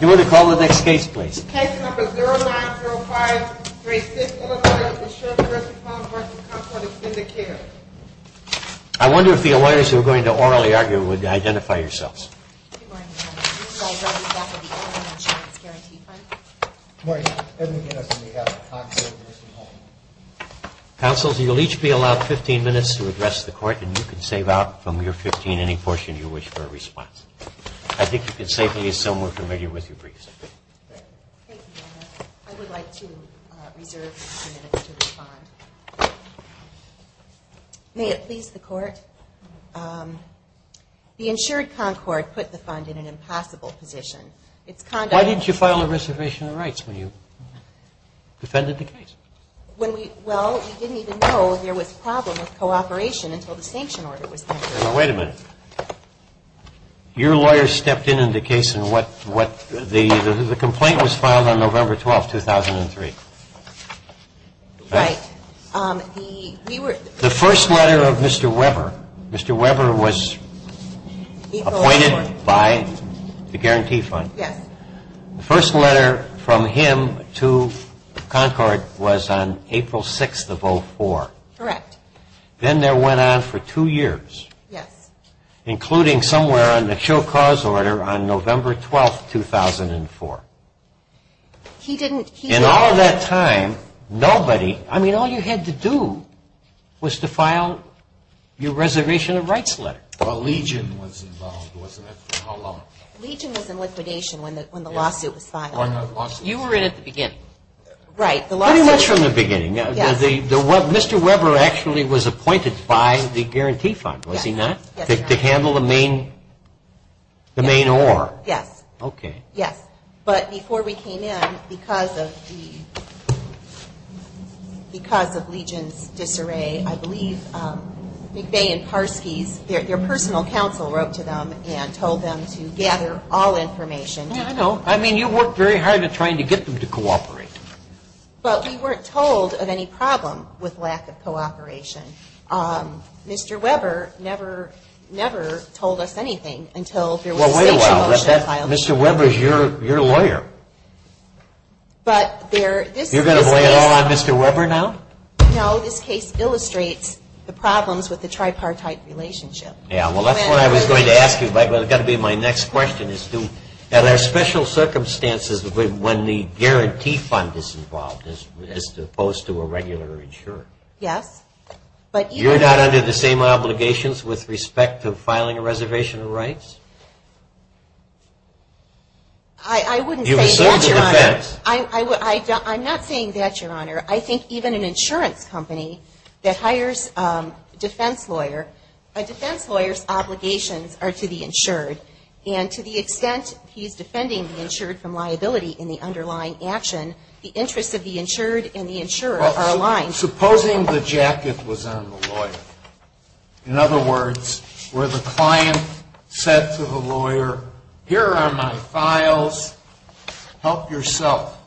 You want to call the next case, please? Case number 090536, Illinois, with the Sheridan-Wilson-Hall and Concord Extended Care. I wonder if the lawyers who are going to orally argue would identify yourselves. Good morning, Your Honor. These are all representatives of the Illinois Insurance Guaranty Fund. Good morning. Edmund Harris on behalf of Concord-Wilson-Hall. Counsel, you'll each be allowed 15 minutes to address the court, and you can save out from your 15 any portion you wish for a response. I think you can safely assume we're familiar with your briefs. Thank you, Your Honor. I would like to reserve 15 minutes to respond. May it please the Court? The insured Concord put the fund in an impossible position. Why didn't you file a reservation of rights when you defended the case? Well, we didn't even know there was a problem with cooperation until the sanction order was entered. Wait a minute. Your lawyer stepped in on the case and what the complaint was filed on November 12, 2003. Right. We were The first letter of Mr. Weber, Mr. Weber was appointed by the Guarantee Fund. Yes. The first letter from him to Concord was on April 6th of 04. Correct. Then there went on for two years. Yes. Including somewhere on the show cause order on November 12, 2004. He didn't In all that time, nobody, I mean, all you had to do was to file your reservation of rights letter. Well, Legion was involved, wasn't it? For how long? Legion was in liquidation when the lawsuit was filed. You were in it at the beginning. Right, the lawsuit Pretty much from the beginning. Yes. Mr. Weber actually was appointed by the Guarantee Fund, was he not? Yes, he was. To handle the main, the main oar. Yes. Okay. Yes. But before we came in, because of the, because of Legion's disarray, I believe McVeigh and Parsky's, their personal counsel wrote to them and told them to gather all information. I know. I mean, you worked very hard at trying to get them to cooperate. But we weren't told of any problem with lack of cooperation. Mr. Weber never, never told us anything until there was a Well, wait a while. Mr. Weber is your lawyer. But there, this case You're going to lay it all on Mr. Weber now? No, this case illustrates the problems with the tripartite relationship. Yeah, well, that's what I was going to ask you. My next question is, do, are there special circumstances when the Guarantee Fund is involved as opposed to a regular insurer? Yes, but You're not under the same obligations with respect to filing a reservation of rights? I wouldn't say that, Your Honor. You serve the defense. I'm not saying that, Your Honor. I think even an insurance company that hires a defense lawyer, a defense lawyer's obligations are to the insured. And to the extent he's defending the insured from liability in the underlying action, the interests of the insured and the insurer are aligned. Supposing the jacket was on the lawyer. In other words, where the client said to the lawyer, here are my files, help yourself.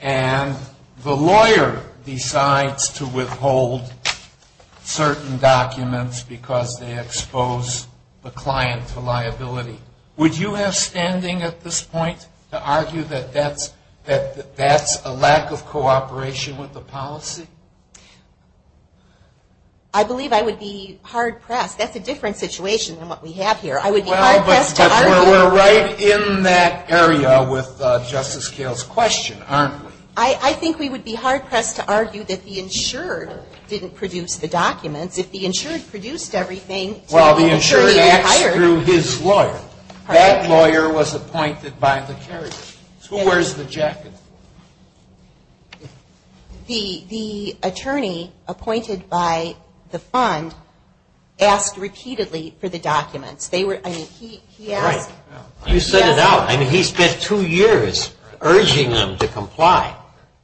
And the lawyer decides to withhold certain documents because they expose the client to liability. Would you have standing at this point to argue that that's a lack of cooperation with the policy? I believe I would be hard pressed. That's a different situation than what we have here. I would be hard pressed to argue We're right in that area with Justice Kale's question, aren't we? I think we would be hard pressed to argue that the insured didn't produce the documents. If the insured produced everything until the attorney hired Well, the insured asked through his lawyer. That lawyer was appointed by the carrier. Who wears the jacket? The attorney appointed by the fund asked repeatedly for the documents. Right. You said it out. I mean, he spent two years urging them to comply.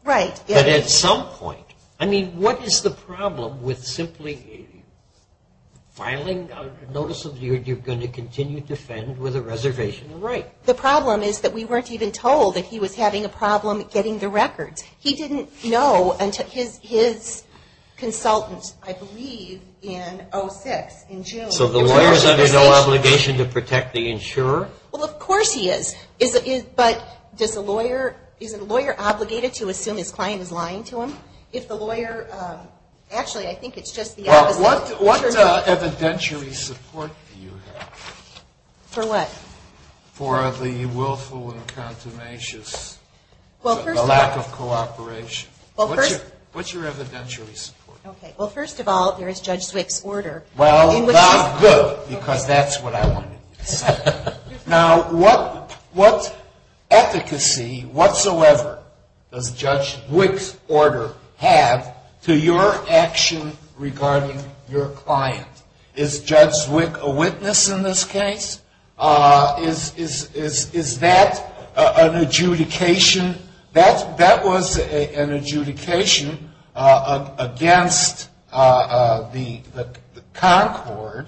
Right. But at some point, I mean, what is the problem with simply filing a notice of you're going to continue to defend with a reservation of right? The problem is that we weren't even told that he was having a problem getting the records. He didn't know until his consultant, I believe, in 06, in June. So the lawyer is under no obligation to protect the insurer? Well, of course he is. But does a lawyer – is a lawyer obligated to assume his client is lying to him? If the lawyer – actually, I think it's just the opposite. What evidentiary support do you have? For what? For the willful and contumacious lack of cooperation. What's your evidentiary support? Well, first of all, there is Judge Zwick's order. Well, not good, because that's what I wanted to say. Now, what efficacy whatsoever does Judge Zwick's order have to your action regarding your client? Is Judge Zwick a witness in this case? Is that an adjudication? That was an adjudication against the Concord.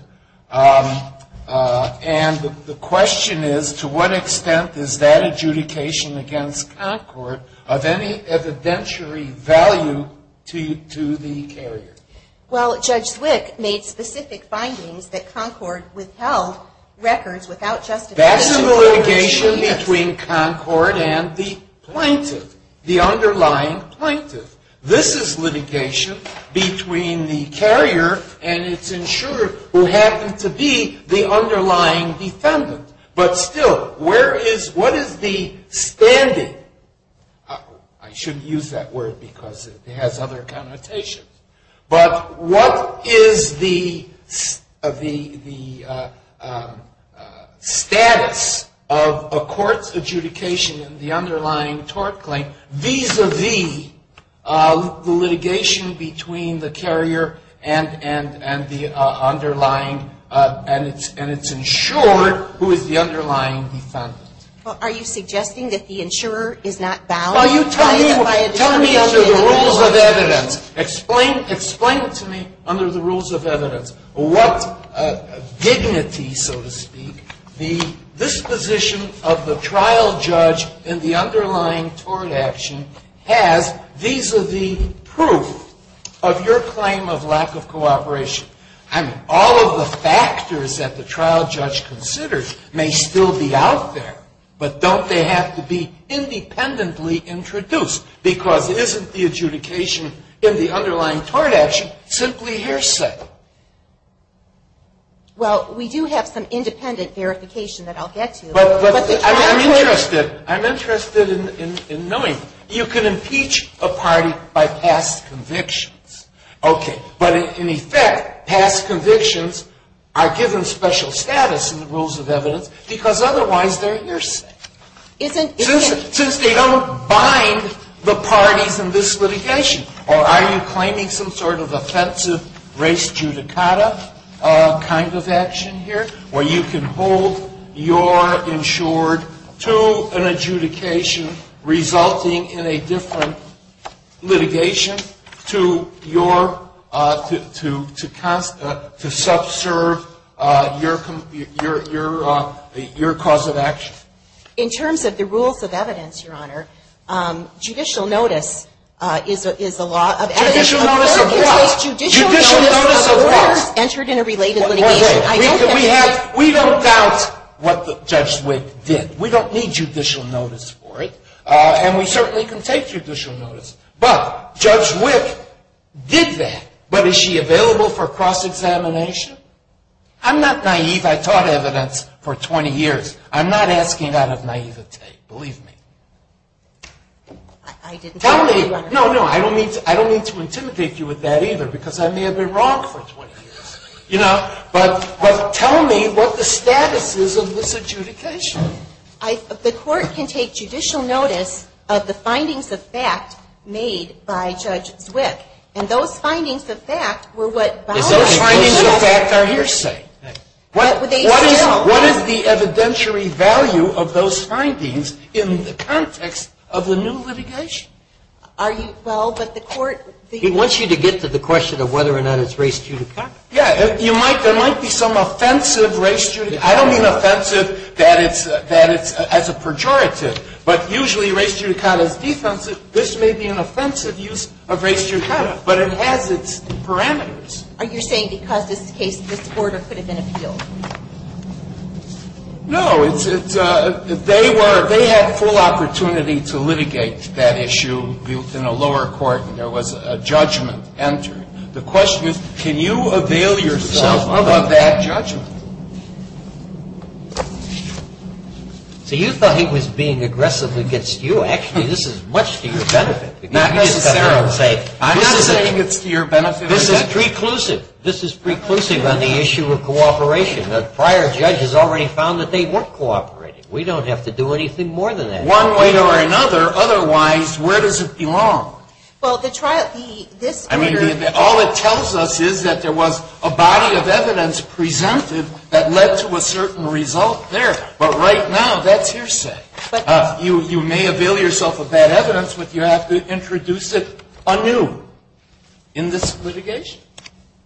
And the question is, to what extent is that adjudication against Concord of any evidentiary value to the carrier? Well, Judge Zwick made specific findings that Concord withheld records without justification. That's a litigation between Concord and the plaintiff, the underlying plaintiff. This is litigation between the carrier and its insurer, who happens to be the underlying defendant. But still, where is – what is the standing? I shouldn't use that word, because it has other connotations. But what is the status of a court's adjudication in the underlying tort claim, vis-a-vis the litigation between the carrier and the underlying – and its insurer, who is the underlying defendant? Well, are you suggesting that the insurer is not bound? Well, you tell me under the rules of evidence. Explain to me under the rules of evidence what dignity, so to speak, the disposition of the trial judge in the underlying tort action has vis-a-vis proof of your claim of lack of cooperation. I mean, all of the factors that the trial judge considers may still be out there, but don't they have to be independently introduced? Because isn't the adjudication in the underlying tort action simply hearsay? Well, we do have some independent verification that I'll get to. But I'm interested. I'm interested in knowing. You can impeach a party by past convictions. Okay. But in effect, past convictions are given special status in the rules of evidence because otherwise they're hearsay. Since they don't bind the parties in this litigation. Or are you claiming some sort of offensive race judicata kind of action here, where you can hold your insured to an adjudication resulting in a different litigation to your, to subserve your cause of action? In terms of the rules of evidence, Your Honor, judicial notice is a law of evidence. Judicial notice of what? Judicial notice of what? Entered in a related litigation. We don't doubt what Judge Wick did. We don't need judicial notice for it. And we certainly can take judicial notice. But Judge Wick did that. But is she available for cross-examination? I'm not naive. I taught evidence for 20 years. I'm not asking out of naivety. Believe me. I didn't tell you, Your Honor. No, no. I don't mean to intimidate you with that either because I may have been wrong for 20 years. You know? But tell me what the status is of this adjudication. The court can take judicial notice of the findings of fact made by Judge Wick. And those findings of fact were what bound it. Those findings of fact are hearsay. What is the evidentiary value of those findings in the context of the new litigation? Are you, well, but the court. He wants you to get to the question of whether or not it's race-judicial. Yeah. There might be some offensive race-judicial. I don't mean offensive that it's as a pejorative. But usually race-judicata is defensive. This may be an offensive use of race-judicata, but it has its parameters. Are you saying because this case, this order could have been appealed? No. They had full opportunity to litigate that issue in a lower court, and there was a judgment entered. The question is can you avail yourself of that judgment? So you thought he was being aggressive against you. Actually, this is much to your benefit. Not necessarily. I'm not saying it's to your benefit. This is preclusive. This is preclusive on the issue of cooperation. The prior judge has already found that they weren't cooperating. We don't have to do anything more than that. One way or another, otherwise, where does it belong? Well, the trial, this order. All it tells us is that there was a body of evidence presented that led to a certain result there. But right now, that's your set. You may avail yourself of that evidence, but you have to introduce it anew in this litigation.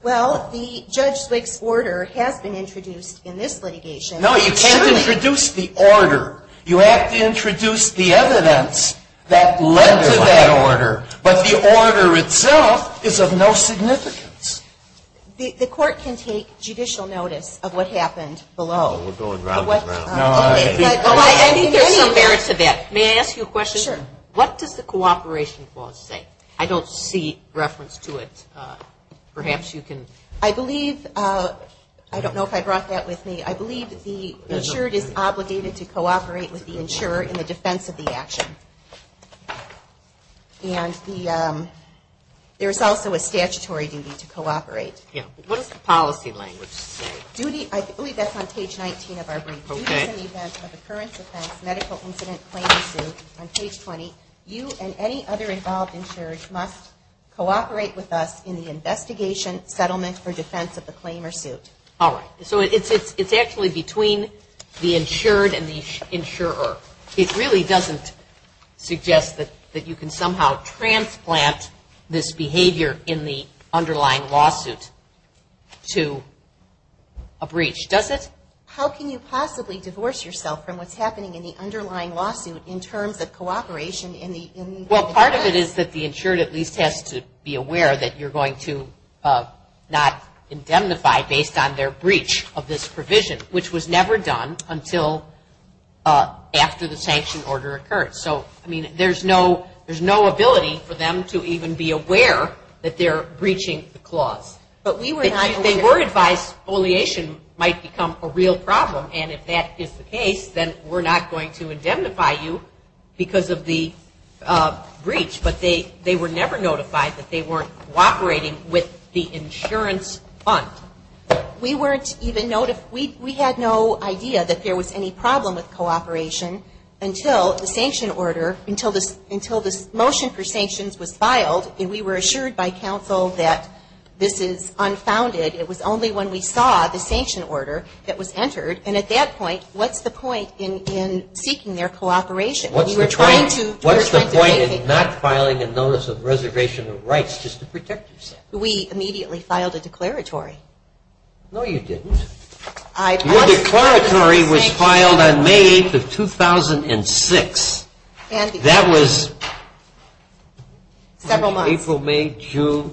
Well, the Judge Zwick's order has been introduced in this litigation. No, you can't introduce the order. You have to introduce the evidence that led to that order. But the order itself is of no significance. The court can take judicial notice of what happened below. Well, we're going round and round. I think there's some merit to that. May I ask you a question? Sure. What does the cooperation clause say? I don't see reference to it. Perhaps you can. I believe, I don't know if I brought that with me. I believe the insured is obligated to cooperate with the insurer in the defense of the action. And there's also a statutory duty to cooperate. What does the policy language say? I believe that's on page 19 of our brief. In the event of occurrence, offense, medical incident, claim, or suit, on page 20, you and any other involved insured must cooperate with us in the investigation, settlement, or defense of the claim or suit. All right. So it's actually between the insured and the insurer. It really doesn't suggest that you can somehow transplant this behavior in the underlying lawsuit to a breach, does it? How can you possibly divorce yourself from what's happening in the underlying lawsuit in terms of cooperation? Well, part of it is that the insured at least has to be aware that you're going to not indemnify based on their breach of this provision, which was never done until after the sanction order occurred. So, I mean, there's no ability for them to even be aware that they're breaching the clause. If they were advised, foliation might become a real problem. And if that is the case, then we're not going to indemnify you because of the breach. But they were never notified that they weren't cooperating with the insurance fund. We weren't even notified. We had no idea that there was any problem with cooperation until the sanction order, until this motion for sanctions was filed, and we were assured by counsel that this is unfounded. It was only when we saw the sanction order that was entered. And at that point, what's the point in seeking their cooperation? What's the point in not filing a notice of reservation of rights just to protect yourself? We immediately filed a declaratory. No, you didn't. Your declaratory was filed on May 8th of 2006. That was April, May, June.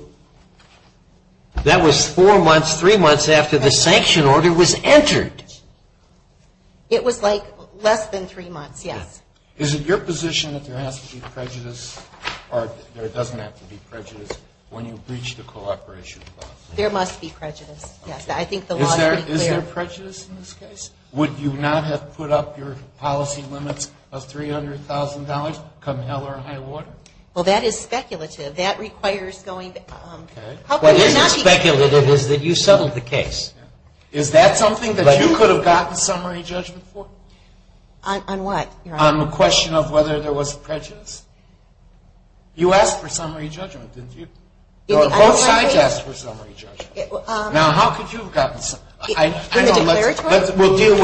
That was four months, three months after the sanction order was entered. It was, like, less than three months, yes. Is it your position that there has to be prejudice or there doesn't have to be prejudice when you breach the cooperation clause? There must be prejudice, yes. I think the law is pretty clear. Is there prejudice in this case? Would you not have put up your policy limits of $300,000 come hell or high water? Well, that is speculative. That requires going to – Okay. What is speculative is that you settled the case. Is that something that you could have gotten summary judgment for? On what, Your Honor? On the question of whether there was prejudice? You asked for summary judgment, didn't you? Both sides asked for summary judgment. Now, how could you have gotten – From the declaratory? We'll deal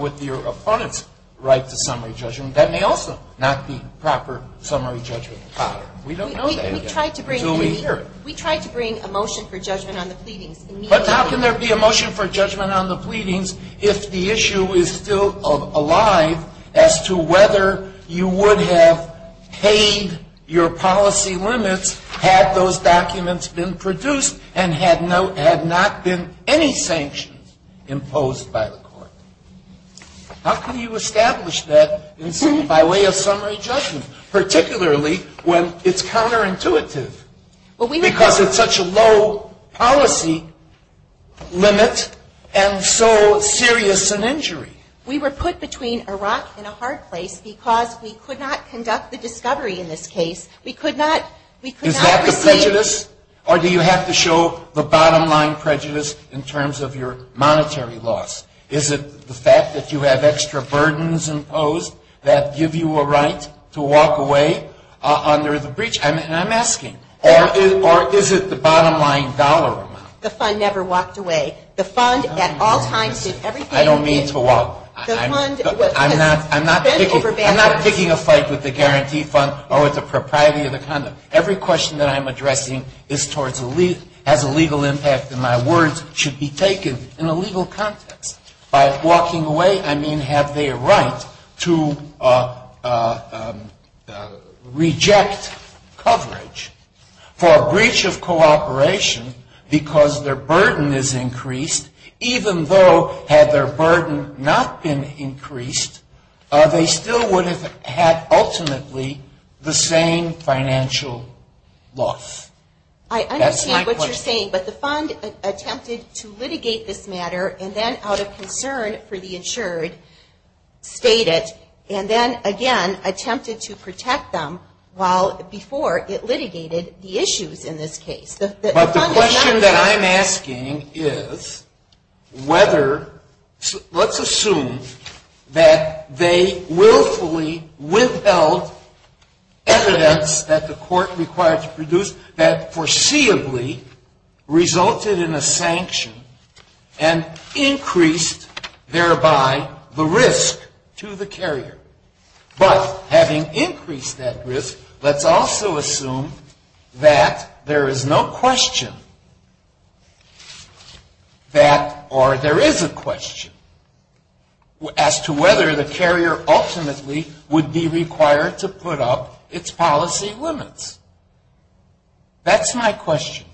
with your opponent's right to summary judgment. That may also not be proper summary judgment. We don't know that yet until we hear it. We tried to bring a motion for judgment on the pleadings. But how can there be a motion for judgment on the pleadings if the issue is still alive as to whether you would have paid your policy limits had those documents been produced and had not been any sanctions imposed by the court? How can you establish that by way of summary judgment, particularly when it's counterintuitive because it's such a low policy limit and so serious an injury? We were put between a rock and a hard place because we could not conduct the discovery in this case. We could not receive – Is that the prejudice? Or do you have to show the bottom-line prejudice in terms of your monetary loss? Is it the fact that you have extra burdens imposed that give you a right to walk away under the breach? And I'm asking. Or is it the bottom-line dollar amount? The fund never walked away. The fund at all times did everything it did. I don't mean to walk – The fund – I'm not picking a fight with the guarantee fund or with the propriety of the conduct. Every question that I'm addressing has a legal impact and my words should be taken in a legal context. By walking away, I mean have they a right to reject coverage for a breach of cooperation because their burden is increased, even though had their burden not been increased, they still would have had ultimately the same financial loss. That's my question. I understand what you're saying, but the fund attempted to litigate this matter and then out of concern for the insured stayed it and then again attempted to protect them while before it litigated the issues in this case. But the question that I'm asking is whether – let's assume that they willfully withheld evidence that the court required to produce that foreseeably resulted in a sanction and increased thereby the risk to the carrier. But having increased that risk, let's also assume that there is no question that – or there is a question as to whether the carrier ultimately would be required to put up its policy limits. That's my question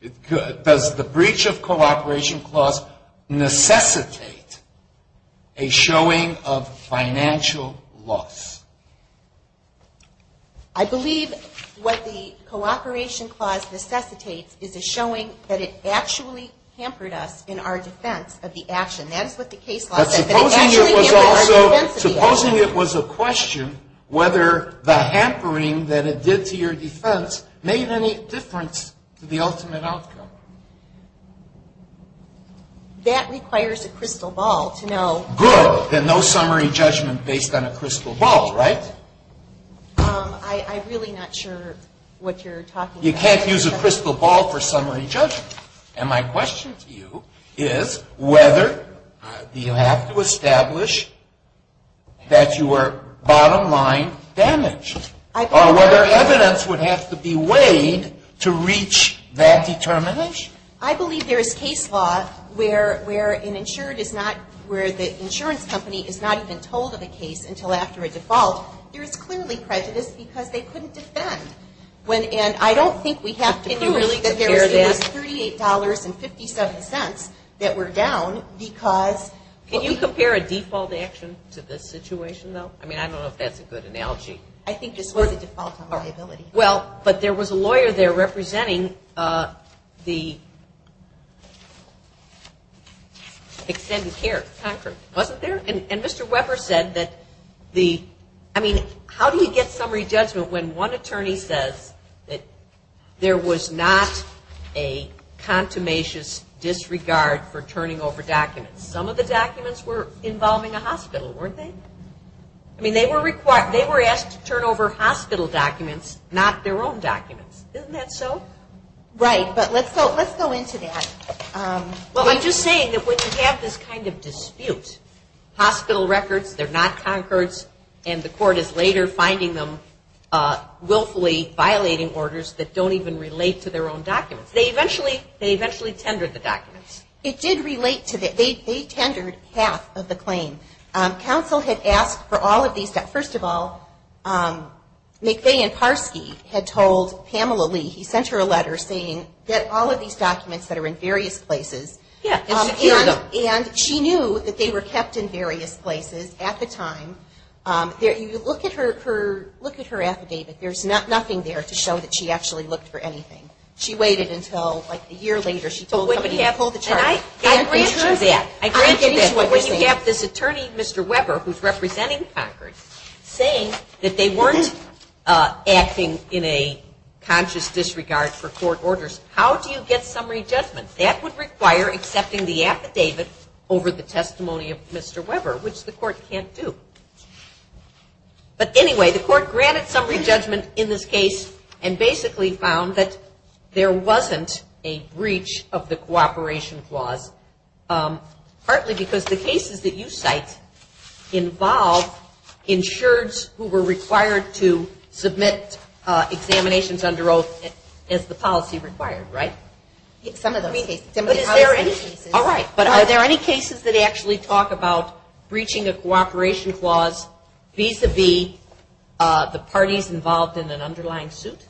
to you. Does the breach of cooperation clause necessitate a showing of financial loss? I believe what the cooperation clause necessitates is a showing that it actually hampered us in our defense of the action. That is what the case law says. But supposing it was also – supposing it was a question whether the hampering that it did to your defense made any difference to the ultimate outcome? That requires a crystal ball to know. Good. Then no summary judgment based on a crystal ball, right? I'm really not sure what you're talking about. You can't use a crystal ball for summary judgment. And my question to you is whether you have to establish that you were bottom line damaged or whether evidence would have to be weighed to reach that determination. I believe there is case law where an insured is not – where the insurance company is not even told of a case until after a default. There is clearly prejudice because they couldn't defend. And I don't think we have to believe that there was $38.57 that were down because – Can you compare a default action to this situation, though? I mean, I don't know if that's a good analogy. I think this was a default on liability. Well, but there was a lawyer there representing the extended care, Concord, wasn't there? And Mr. Weber said that the – I mean, how do you get summary judgment when one attorney says that there was not a contumacious disregard for turning over documents? Some of the documents were involving a hospital, weren't they? I mean, they were asked to turn over hospital documents, not their own documents. Isn't that so? Right. But let's go into that. Well, I'm just saying that when you have this kind of dispute, hospital records, they're not Concord's, and the court is later finding them willfully violating orders that don't even relate to their own documents. They eventually tendered the documents. It did relate to that. They tendered half of the claim. Counsel had asked for all of these documents. First of all, McVeigh and Parski had told Pamela Lee, he sent her a letter saying, get all of these documents that are in various places. Yeah, and secure them. And she knew that they were kept in various places at the time. You look at her affidavit. There's nothing there to show that she actually looked for anything. She waited until, like, a year later. She told somebody to pull the chart. I grant you that. I grant you that. So when you have this attorney, Mr. Weber, who's representing Concord, saying that they weren't acting in a conscious disregard for court orders, how do you get summary judgment? That would require accepting the affidavit over the testimony of Mr. Weber, which the court can't do. But anyway, the court granted summary judgment in this case and basically found that there wasn't a breach of the cooperation clause, partly because the cases that you cite involve insureds who were required to submit examinations under oath as the policy required, right? Some of those cases. But is there any cases? All right. But are there any cases that actually talk about breaching a cooperation clause vis-à-vis the parties involved in an underlying suit?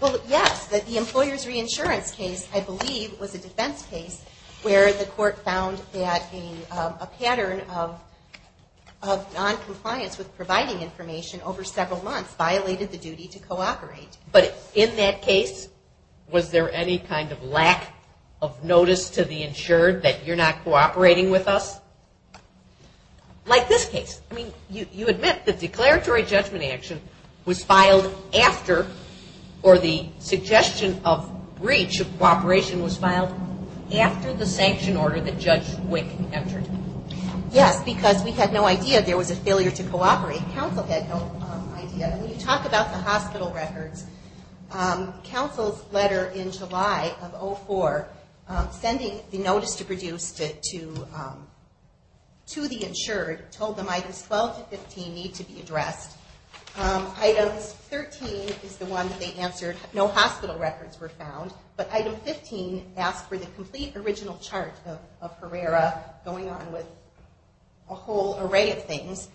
Well, yes. The employer's reinsurance case, I believe, was a defense case where the court found that a pattern of noncompliance with providing information over several months violated the duty to cooperate. But in that case, was there any kind of lack of notice to the insured that you're not cooperating with us? Like this case. I mean, you admit the declaratory judgment action was filed after or the suggestion of breach of cooperation was filed after the sanction order that Judge Wick entered. Yes, because we had no idea there was a failure to cooperate. Counsel had no idea. And when you talk about the hospital records, counsel's letter in July of 2004 sending the notice to produce to the insured told them items 12 to 15 need to be addressed. Items 13 is the one that they answered. No hospital records were found. But item 15 asked for the complete original chart of Herrera going on with a whole array of things.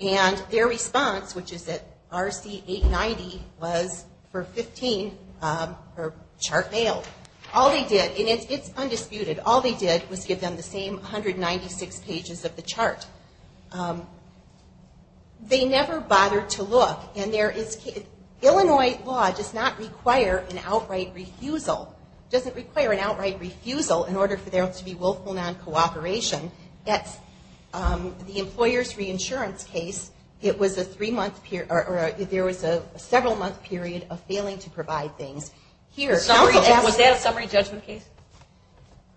And their response, which is that RC 890 was for 15, her chart failed. All they did, and it's undisputed, all they did was give them the same 196 pages of the chart. They never bothered to look. And Illinois law does not require an outright refusal. It doesn't require an outright refusal in order for there to be willful non-cooperation. The employer's reinsurance case, there was a several-month period of failing to provide things. Was that a summary judgment case?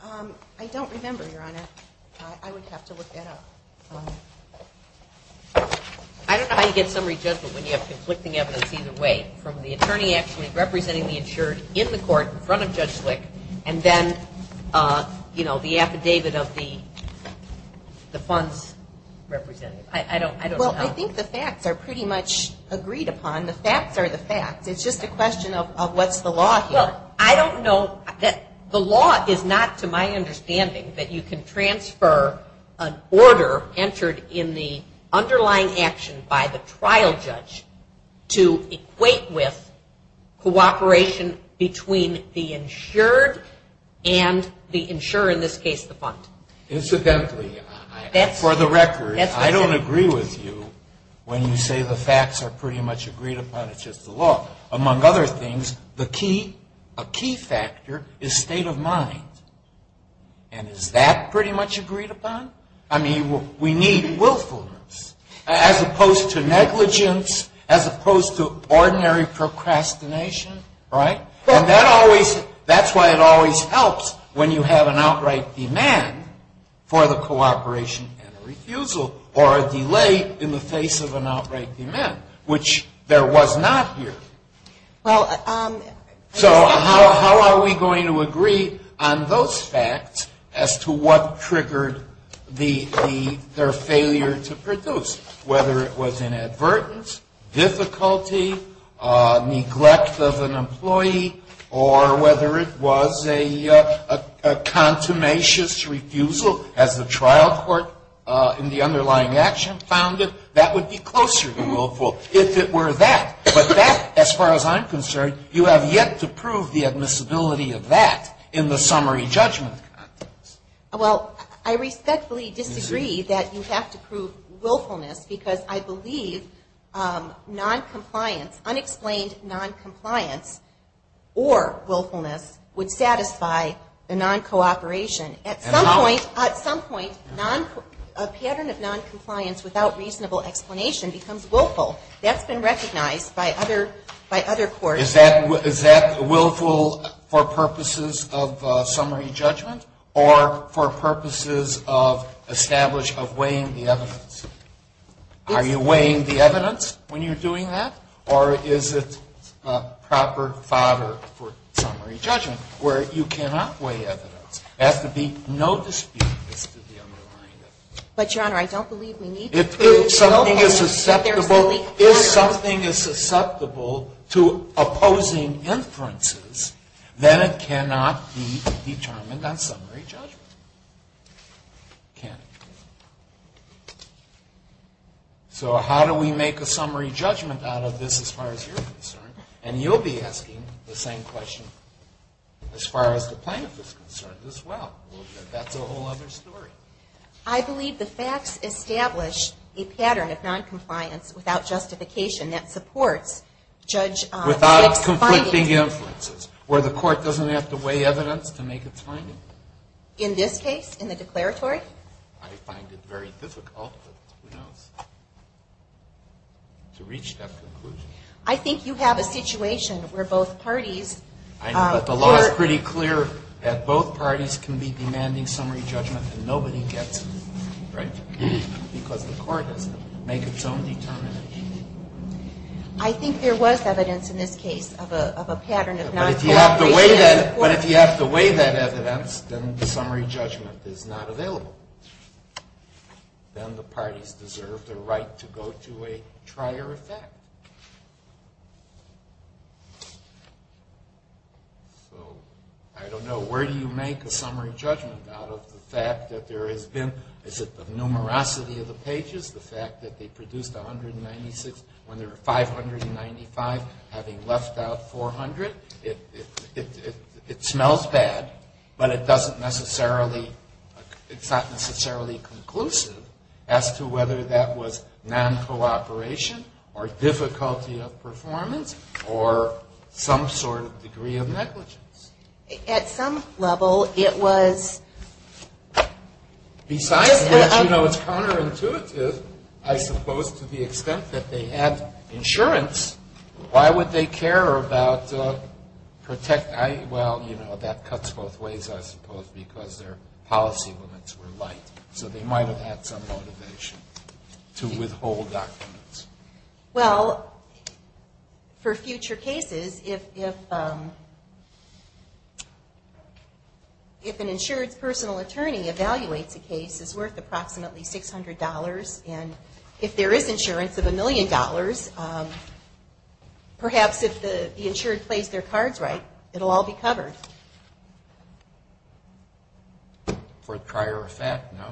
I don't remember, Your Honor. I would have to look that up. I don't know how you get summary judgment when you have conflicting evidence either way, from the attorney actually representing the insured in the court in front of Judge Slick, and then, you know, the affidavit of the funds representative. I don't know. Well, I think the facts are pretty much agreed upon. The facts are the facts. It's just a question of what's the law here. Well, I don't know. The law is not, to my understanding, that you can transfer an order entered in the underlying action by the trial judge to equate with cooperation between the insured and the insurer, in this case, the fund. Incidentally, for the record, I don't agree with you when you say the facts are pretty much agreed upon. It's just the law. Among other things, a key factor is state of mind, and is that pretty much agreed upon? I mean, we need willfulness, as opposed to negligence, as opposed to ordinary procrastination, right? And that's why it always helps when you have an outright demand for the cooperation and the refusal, or a delay in the face of an outright demand, which there was not here. So how are we going to agree on those facts as to what triggered their failure to produce? Whether it was inadvertence, difficulty, neglect of an employee, or whether it was a contumacious refusal, as the trial court in the underlying action found it, that would be closer to willful, if it were that. But that, as far as I'm concerned, you have yet to prove the admissibility of that in the summary judgment. Well, I respectfully disagree that you have to prove willfulness, because I believe noncompliance, unexplained noncompliance or willfulness would satisfy the noncooperation. At some point, a pattern of noncompliance without reasonable explanation becomes willful. That's been recognized by other courts. Is that willful for purposes of summary judgment, or for purposes of establishing, of weighing the evidence? Are you weighing the evidence when you're doing that, or is it proper fodder for summary judgment, where you cannot weigh evidence? There has to be no dispute as to the underlying evidence. But, Your Honor, I don't believe we need to prove willfulness. If something is susceptible to opposing inferences, then it cannot be determined on summary judgment. It can't. So how do we make a summary judgment out of this, as far as you're concerned? And you'll be asking the same question as far as the plaintiff is concerned. Well, that's a whole other story. I believe the facts establish a pattern of noncompliance without justification that supports judge's findings. Without conflicting inferences, where the court doesn't have to weigh evidence to make its findings. In this case, in the declaratory? I find it very difficult, but who knows, to reach that conclusion. I think you have a situation where both parties... The law is pretty clear that both parties can be demanding summary judgment and nobody gets it, right? Because the court doesn't make its own determination. I think there was evidence in this case of a pattern of noncompliance. But if you have to weigh that evidence, then the summary judgment is not available. Then the parties deserve the right to go to a trier effect. So, I don't know, where do you make a summary judgment out of the fact that there has been... Is it the numerosity of the pages? The fact that they produced 196 when there were 595, having left out 400? It smells bad, but it doesn't necessarily... It's not necessarily conclusive as to whether that was noncooperation or difficulty of performance or some sort of degree of negligence. At some level, it was... Besides that, you know, it's counterintuitive, I suppose, to the extent that they had insurance. Why would they care about protect... Well, you know, that cuts both ways, I suppose, because their policy limits were light. So they might have had some motivation to withhold documents. Well, for future cases, if an insurance personal attorney evaluates a case, it's worth approximately $600. And if there is insurance of $1 million, perhaps if the insured plays their cards right, it'll all be covered. For a trier effect, no?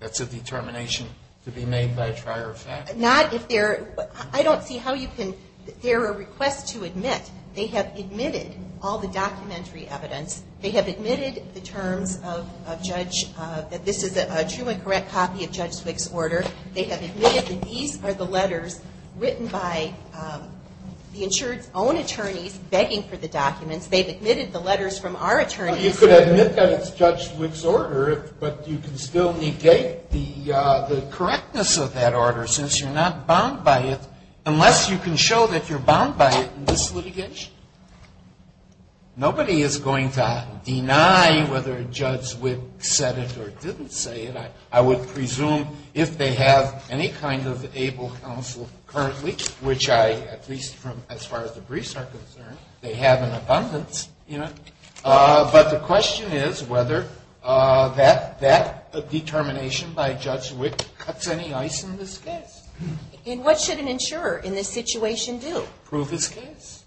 That's a determination to be made by a trier effect? Not if they're... I don't see how you can... They're a request to admit. They have admitted all the documentary evidence. They have admitted the terms of Judge... That this is a true and correct copy of Judge Wick's order. They have admitted that these are the letters written by the insured's own attorneys begging for the documents. They've admitted the letters from our attorneys. Well, you could admit that it's Judge Wick's order, but you can still negate the correctness of that order since you're not bound by it, unless you can show that you're bound by it in this litigation. Nobody is going to deny whether Judge Wick said it or didn't say it. I would presume if they have any kind of able counsel currently, which I, at least as far as the briefs are concerned, they have in abundance. But the question is whether that determination by Judge Wick cuts any ice in this case. And what should an insurer in this situation do? Prove his case?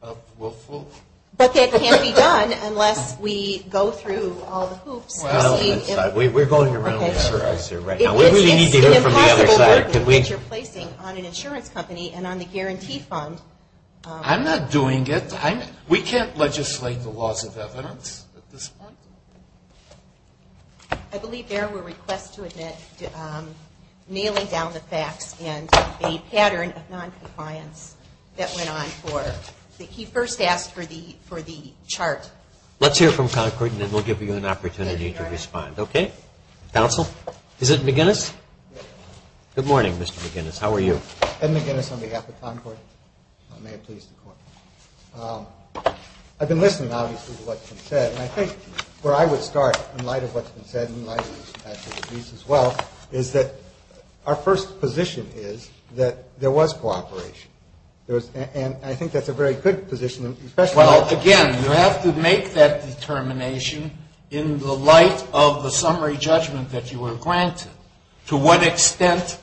But that can't be done unless we go through all the hoops. We're going around the address here right now. It's an impossible burden that you're placing on an insurance company and on the guarantee fund. I'm not doing it. We can't legislate the laws of evidence at this point. I believe there were requests to admit nailing down the facts and a pattern of noncompliance that went on for. He first asked for the chart. Let's hear from Concord and then we'll give you an opportunity to respond. Okay? Counsel? Is it McGinnis? Good morning, Mr. McGinnis. How are you? Ed McGinnis on behalf of Concord. May it please the Court. I've been listening, obviously, to what's been said. And I think where I would start, in light of what's been said and in light of what's been said as well, is that our first position is that there was cooperation. And I think that's a very good position. Well, again, you have to make that determination in the light of the summary judgment that you were granted. To what extent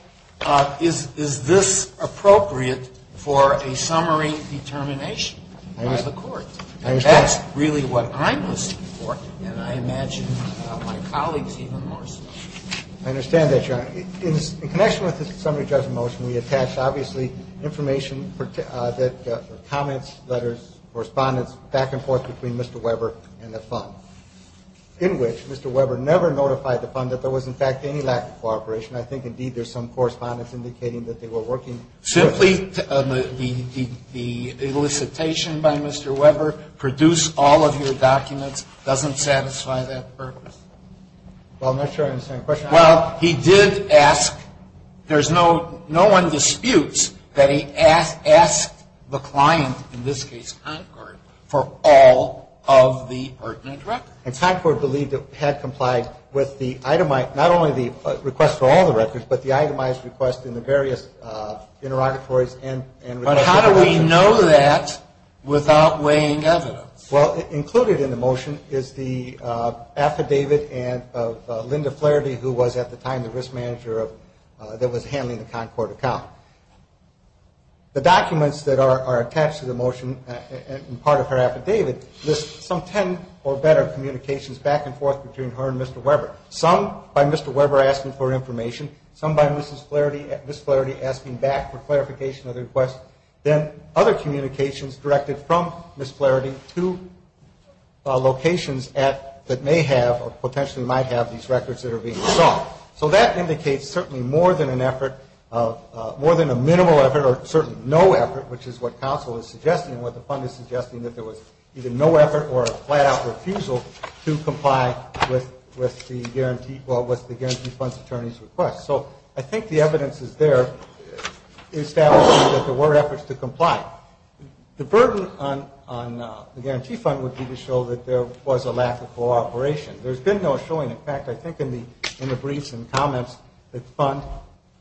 is this appropriate for a summary determination by the Court? And that's really what I'm listening for, and I imagine my colleagues even more so. I understand that, Your Honor. In connection with the summary judgment motion, we attached, obviously, information, comments, letters, in which Mr. Weber never notified the fund that there was, in fact, any lack of cooperation. I think, indeed, there's some correspondence indicating that they were working. Simply the elicitation by Mr. Weber, produce all of your documents, doesn't satisfy that purpose? Well, I'm not sure I understand the question. Well, he did ask, there's no one disputes that he asked the client, in this case Concord, for all of the pertinent records. And Concord believed it had complied with the itemized, not only the request for all the records, but the itemized request in the various interrogatories and requests. But how do we know that without weighing evidence? Well, included in the motion is the affidavit of Linda Flaherty, who was, at the time, the risk manager that was handling the Concord account. The documents that are attached to the motion, part of her affidavit, lists some 10 or better communications back and forth between her and Mr. Weber. Some by Mr. Weber asking for information, some by Ms. Flaherty asking back for clarification of the request. Then other communications directed from Ms. Flaherty to locations that may have, or potentially might have, these records that are being sought. So that indicates certainly more than an effort, more than a minimal effort, or certainly no effort, which is what counsel is suggesting and what the fund is suggesting, that there was either no effort or a flat-out refusal to comply with the guarantee funds attorney's request. So I think the evidence is there establishing that there were efforts to comply. The burden on the guarantee fund would be to show that there was a lack of cooperation. There's been no showing. In fact, I think in the briefs and comments, the fund,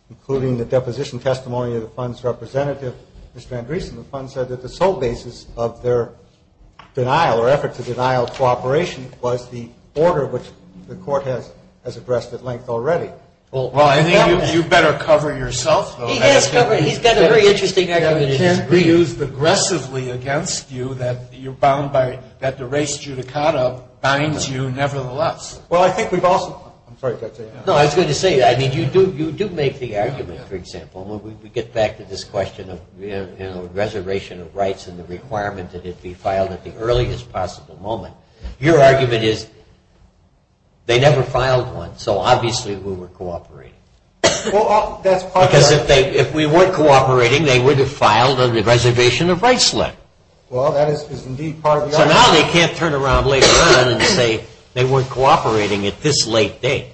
including the deposition testimony of the fund's representative, Mr. Andreessen, the fund said that the sole basis of their denial or effort to denial of cooperation was the order which the court has addressed at length already. Well, I think you better cover yourself, though. He's got a very interesting argument. You can't be used aggressively against you that you're bound by, that the race judicata binds you nevertheless. Well, I think we've also, I'm sorry. No, I was going to say, I mean, you do make the argument, for example, when we get back to this question of reservation of rights and the requirement that it be filed at the earliest possible moment. Your argument is they never filed one. So obviously we were cooperating. Because if we weren't cooperating, they would have filed under the reservation of rights letter. Well, that is indeed part of the argument. So now they can't turn around later on and say they weren't cooperating at this late date.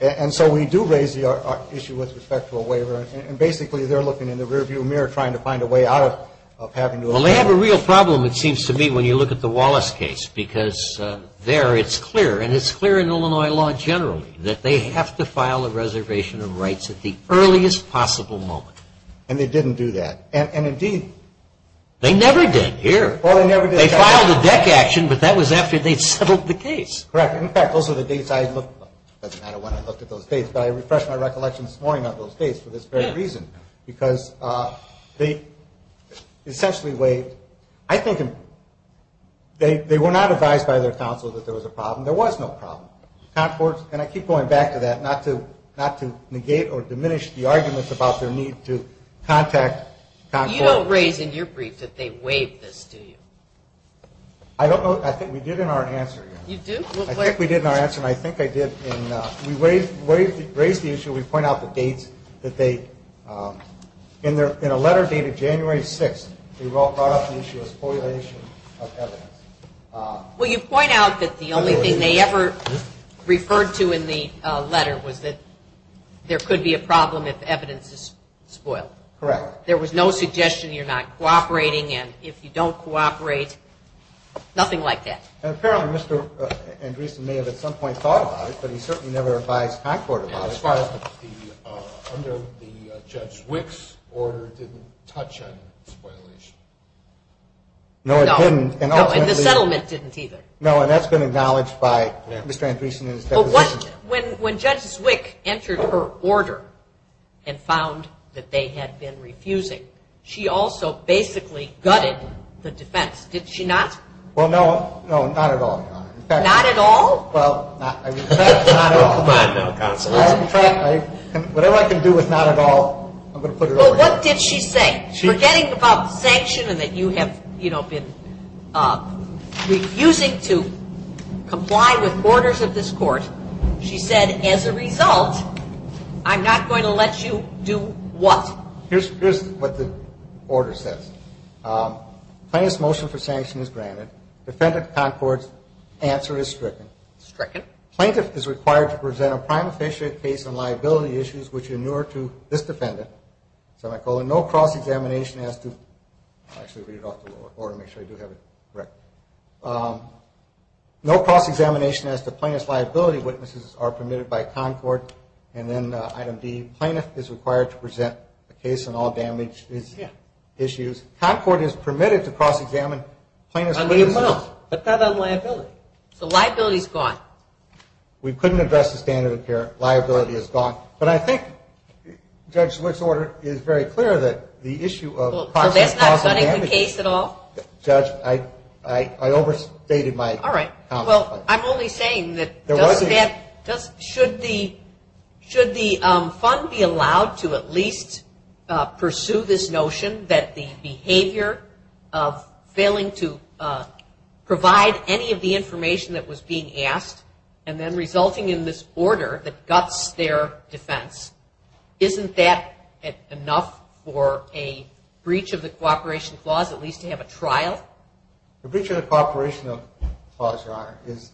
And so we do raise the issue with respect to a waiver, and basically they're looking in the rearview mirror trying to find a way out of having to approve it. Well, they have a real problem, it seems to me, when you look at the Wallace case, because there it's clear, and it's clear in Illinois law generally, that they have to file a reservation of rights at the earliest possible moment. And they didn't do that. And indeed. They never did here. Well, they never did. They filed a deck action, but that was after they'd settled the case. Correct. In fact, those are the dates I looked at. It doesn't matter when I looked at those dates, but I refreshed my recollection this morning of those dates for this very reason. Because they essentially waived. I think they were not advised by their counsel that there was a problem. There was no problem. And I keep going back to that, not to negate or diminish the arguments about their need to contact Concord. You don't raise in your brief that they waived this, do you? I don't know. I think we did in our answer. You do? I think we did in our answer, and I think I did. We raised the issue. We point out the dates that they, in a letter dated January 6th, they brought up the issue of spoilation of evidence. Well, you point out that the only thing they ever referred to in the letter was that there could be a problem if evidence is spoiled. Correct. There was no suggestion you're not cooperating, and if you don't cooperate, nothing like that. Apparently, Mr. Andreessen may have at some point thought about it, but he certainly never advised Concord about it. As far as under Judge Zwick's order didn't touch on the spoilation. No, it didn't. No, and the settlement didn't either. No, and that's been acknowledged by Mr. Andreessen in his deposition. When Judge Zwick entered her order and found that they had been refusing, she also basically gutted the defense. Did she not? Well, no. No, not at all, Your Honor. Not at all? Well, not at all. Come on now, Counsel. Whatever I can do with not at all, I'm going to put it over. Well, what did she say? Forgetting about the sanction and that you have, you know, been refusing to comply with orders of this court, she said, as a result, I'm not going to let you do what? Here's what the order says. Plaintiff's motion for sanction is granted. Defendant Concord's answer is stricken. Stricken. Plaintiff is required to present a prime official case on liability issues which are newer to this defendant, semicolon, no cross-examination as to plaintiff's liability. Witnesses are permitted by Concord. And then item D, plaintiff is required to present a case on all damage issues. Concord is permitted to cross-examine plaintiff's claims. But not on liability. So liability is gone. We couldn't address the standard of care. Liability is gone. But I think, Judge, this order is very clear that the issue of cross-examination. Well, that's not setting the case at all? Judge, I overstated my comment. All right. Well, I'm only saying that should the fund be allowed to at least pursue this notion that the behavior of failing to provide any of the information that was being asked and then resulting in this order that guts their defense, isn't that enough for a breach of the cooperation clause at least to have a trial? A breach of the cooperation clause, Your Honor, is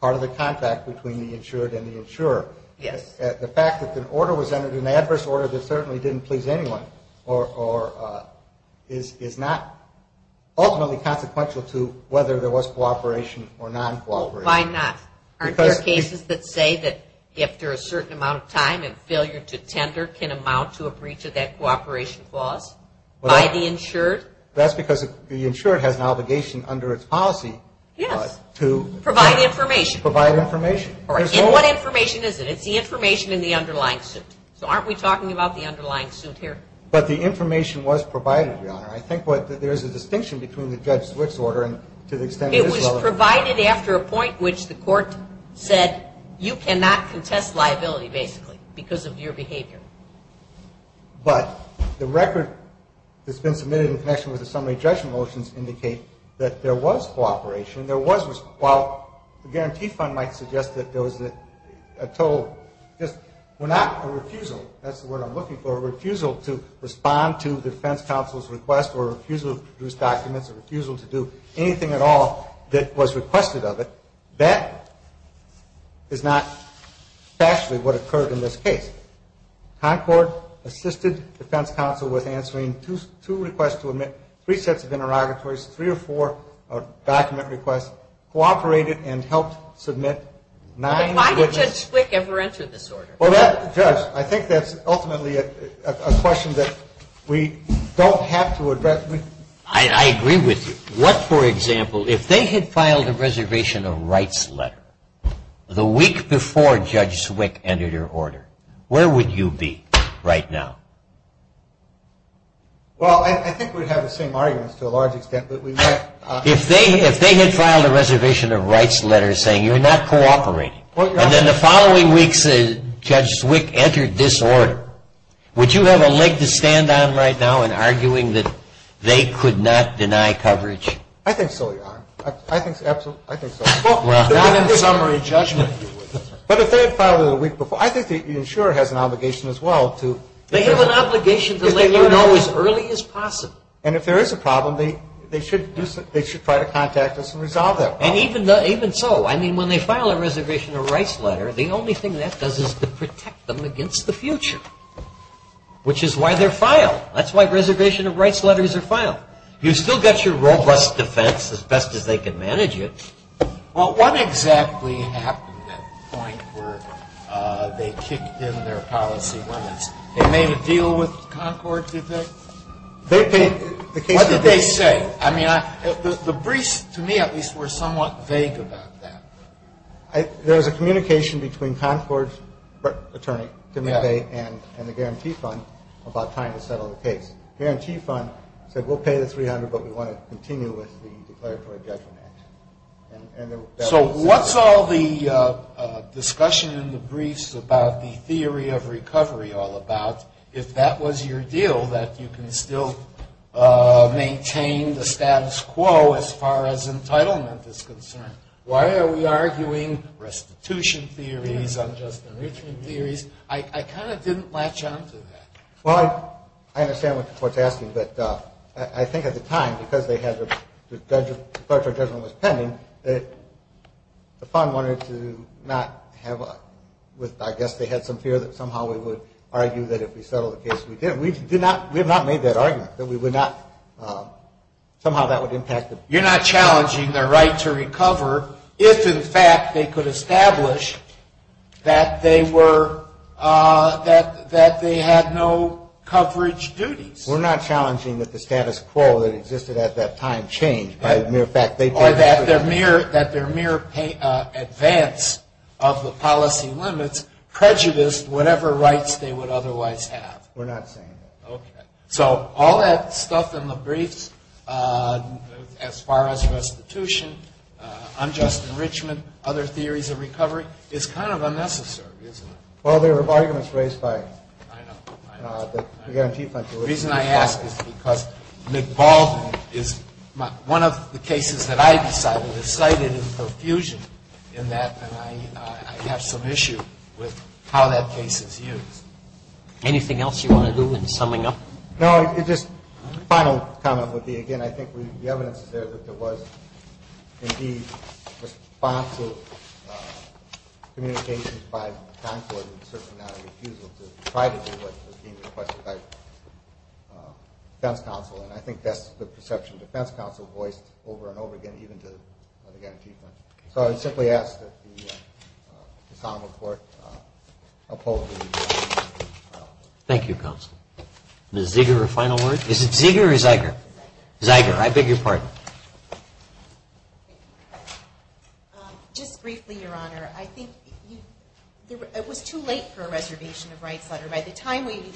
part of the contact between the insured and the insurer. Yes. The fact that an order was entered, an adverse order that certainly didn't please anyone, is not ultimately consequential to whether there was cooperation or non-cooperation. Why not? Aren't there cases that say that after a certain amount of time and failure to tender can amount to a breach of that cooperation clause by the insured? That's because the insured has an obligation under its policy to provide information. Provide information. In what information is it? It's the information in the underlying suit. So aren't we talking about the underlying suit here? But the information was provided, Your Honor. I think there's a distinction between the judge's switch order and to the extent it is relevant. It was provided after a point which the court said you cannot contest liability basically because of your behavior. But the record that's been submitted in connection with the summary judgment motions indicate that there was cooperation. While the guarantee fund might suggest that there was a total, just not a refusal, that's the word I'm looking for, a refusal to respond to the defense counsel's request or a refusal to produce documents or a refusal to do anything at all that was requested of it, that is not factually what occurred in this case. Concord assisted defense counsel with answering two requests to admit, three sets of interrogatories, three or four document requests, cooperated and helped submit. Why did Judge Zwick ever enter this order? Well, Judge, I think that's ultimately a question that we don't have to address. I agree with you. What, for example, if they had filed a reservation of rights letter the week before Judge Zwick entered her order, where would you be right now? Well, I think we'd have the same arguments to a large extent. If they had filed a reservation of rights letter saying you're not cooperating and then the following weeks Judge Zwick entered this order, would you have a leg to stand on right now in arguing that they could not deny coverage? I think so, Your Honor. I think so. Not in summary judgment. But if they had filed it a week before. I think the insurer has an obligation as well. They have an obligation to let you know as early as possible. And if there is a problem, they should try to contact us and resolve that problem. And even so, I mean, when they file a reservation of rights letter, the only thing that does is to protect them against the future, which is why they're filed. That's why reservation of rights letters are filed. You've still got your robust defense as best as they can manage it. Well, what exactly happened at the point where they kicked in their policy limits? They made a deal with Concord, did they? What did they say? I mean, the briefs, to me at least, were somewhat vague about that. There was a communication between Concord's attorney, Timothy, and the guarantee fund about time to settle the case. The guarantee fund said we'll pay the $300,000, but we want to continue with the declaratory judgment act. So what's all the discussion in the briefs about the theory of recovery all about? If that was your deal, that you can still maintain the status quo as far as entitlement is concerned. Why are we arguing restitution theories, unjust enrichment theories? I kind of didn't latch on to that. Well, I understand what the court's asking, but I think at the time, because the declaratory judgment was pending, the fund wanted to not have a – I guess they had some fear that somehow we would argue that if we settled the case, we did. We have not made that argument, that we would not – somehow that would impact the – You're not challenging their right to recover if, in fact, they could establish that they were – that they had no coverage duties. We're not challenging that the status quo that existed at that time changed by the mere fact they could – Or that their mere advance of the policy limits prejudiced whatever rights they would otherwise have. We're not saying that. Okay. So all that stuff in the briefs as far as restitution, unjust enrichment, other theories of recovery, is kind of unnecessary, isn't it? Well, there were arguments raised by – I know, I know. The reason I ask is because McBaldwin is – one of the cases that I decided is cited in profusion in that, and I have some issue with how that case is used. Anything else you want to do in summing up? No, it's just – the final comment would be, again, I think the evidence is there that there was, indeed, responsive communications by the consulate in searching out a refusal to try to do what was being requested by defense counsel, and I think that's the perception defense counsel voiced over and over again, even to other young people. So I simply ask that the common court oppose the – Thank you, counsel. Ms. Zeger, a final word? Is it Zeger or Zeiger? Zeiger. Zeiger. I beg your pardon. Just briefly, Your Honor, I think it was too late for a reservation of rights letter. By the time we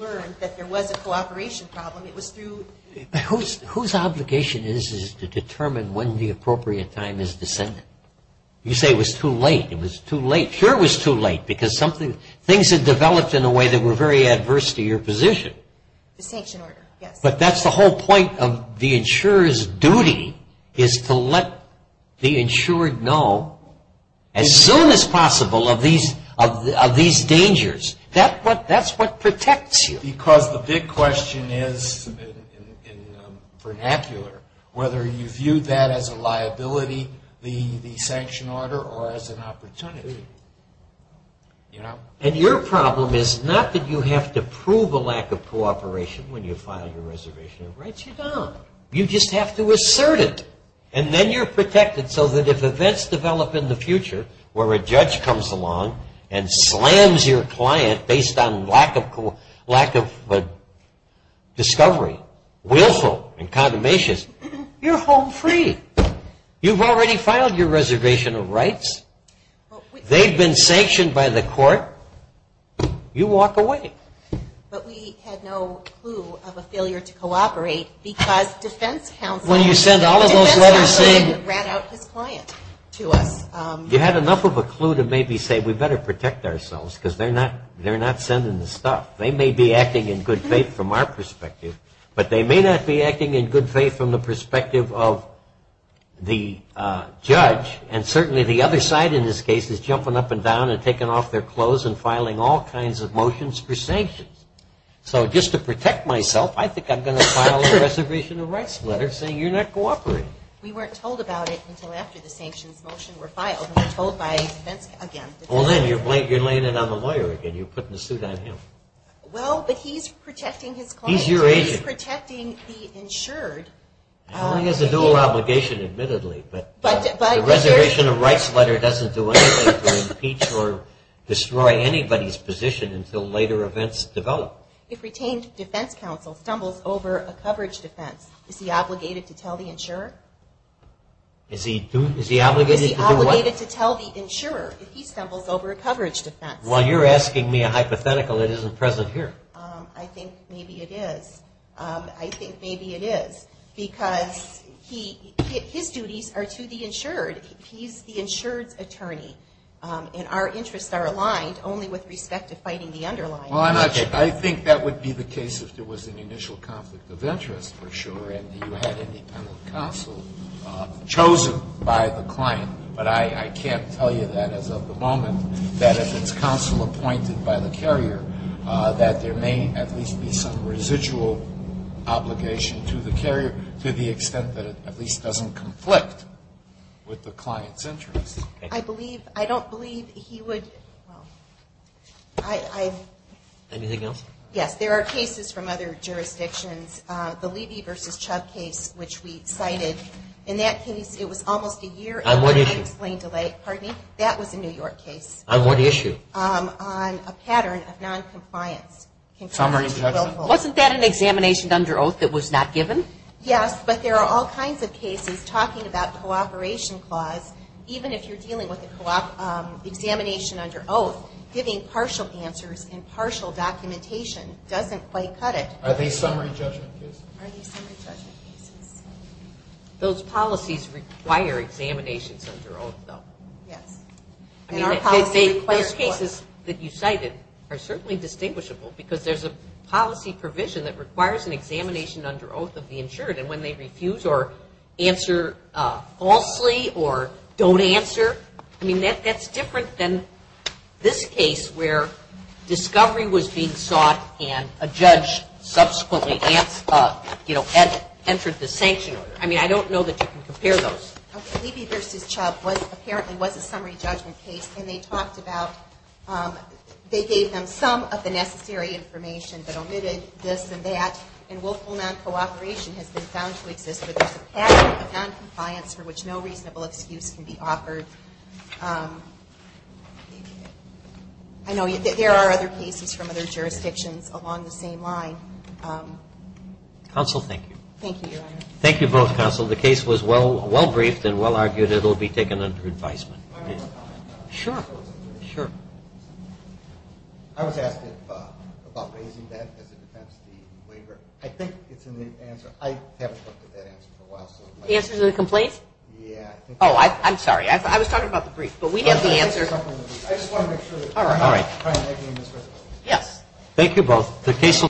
learned that there was a cooperation problem, it was through – Whose obligation is it to determine when the appropriate time is to send it? You say it was too late. It was too late. Sure it was too late because something – things had developed in a way that were very adverse to your position. The sanction order, yes. But that's the whole point of the insurer's duty is to let the insured know as soon as possible of these dangers. That's what protects you. Because the big question is in vernacular whether you view that as a liability, the sanction order, or as an opportunity. And your problem is not that you have to prove a lack of cooperation when you file your reservation of rights. You don't. You just have to assert it. And then you're protected so that if events develop in the future where a judge comes along and slams your client based on lack of discovery, willful, and condemnations, you're home free. You've already filed your reservation of rights. They've been sanctioned by the court. You walk away. But we had no clue of a failure to cooperate because defense counsel – When you send all of those letters saying – Defense counsel ran out his client to us. You had enough of a clue to maybe say we better protect ourselves because they're not sending the stuff. They may be acting in good faith from our perspective, but they may not be acting in good faith from the perspective of the judge. And certainly the other side in this case is jumping up and down and taking off their clothes and filing all kinds of motions for sanctions. So just to protect myself, I think I'm going to file a reservation of rights letter saying you're not cooperating. We weren't told about it until after the sanctions motion were filed. We were told by defense counsel. Well, then you're laying it on the lawyer again. You're putting the suit on him. Well, but he's protecting his client. He's your agent. He's protecting the insured. He has a dual obligation, admittedly. But the reservation of rights letter doesn't do anything to impeach or destroy anybody's position until later events develop. If retained defense counsel stumbles over a coverage defense, is he obligated to tell the insurer? Is he obligated to do what? Is he obligated to tell the insurer if he stumbles over a coverage defense? Well, you're asking me a hypothetical that isn't present here. I think maybe it is. I think maybe it is because his duties are to the insured. He's the insured's attorney. And our interests are aligned only with respect to fighting the underlying. Well, I think that would be the case if there was an initial conflict of interest, for sure, and you had independent counsel chosen by the client. But I can't tell you that as of the moment, that if it's counsel appointed by the carrier, that there may at least be some residual obligation to the carrier to the extent that it at least doesn't conflict with the client's interests. I don't believe he would. Anything else? Yes, there are cases from other jurisdictions. The Levy v. Chubb case, which we cited, in that case it was almost a year. On what issue? Pardon me? That was a New York case. On what issue? On a pattern of noncompliance. Wasn't that an examination under oath that was not given? Yes, but there are all kinds of cases talking about cooperation clause, even if you're dealing with an examination under oath, giving partial answers and partial documentation doesn't quite cut it. Are they summary judgment cases? Are they summary judgment cases? Those policies require examinations under oath, though. Yes. I mean, those cases that you cited are certainly distinguishable, because there's a policy provision that requires an examination under oath of the insured, and when they refuse or answer falsely or don't answer, I mean, that's different than this case where discovery was being sought and a judge subsequently entered the sanction order. I mean, I don't know that you can compare those. Levy v. Chubb apparently was a summary judgment case, and they talked about they gave them some of the necessary information but omitted this and that, and willful noncooperation has been found to exist, but there's a pattern of noncompliance for which no reasonable excuse can be offered. I know there are other cases from other jurisdictions along the same line. Counsel, thank you. Thank you, Your Honor. Thank you both, counsel. The case was well briefed and well argued. It will be taken under advisement. I have a comment. Sure, sure. I was asked about raising that as a defense to the waiver. I think it's in the answer. I haven't looked at that answer for a while. The answer to the complaint? Yeah. Oh, I'm sorry. I was talking about the brief. But we have the answer. I just want to make sure that we're not trying to make any misrepresentations. Yes. Thank you both.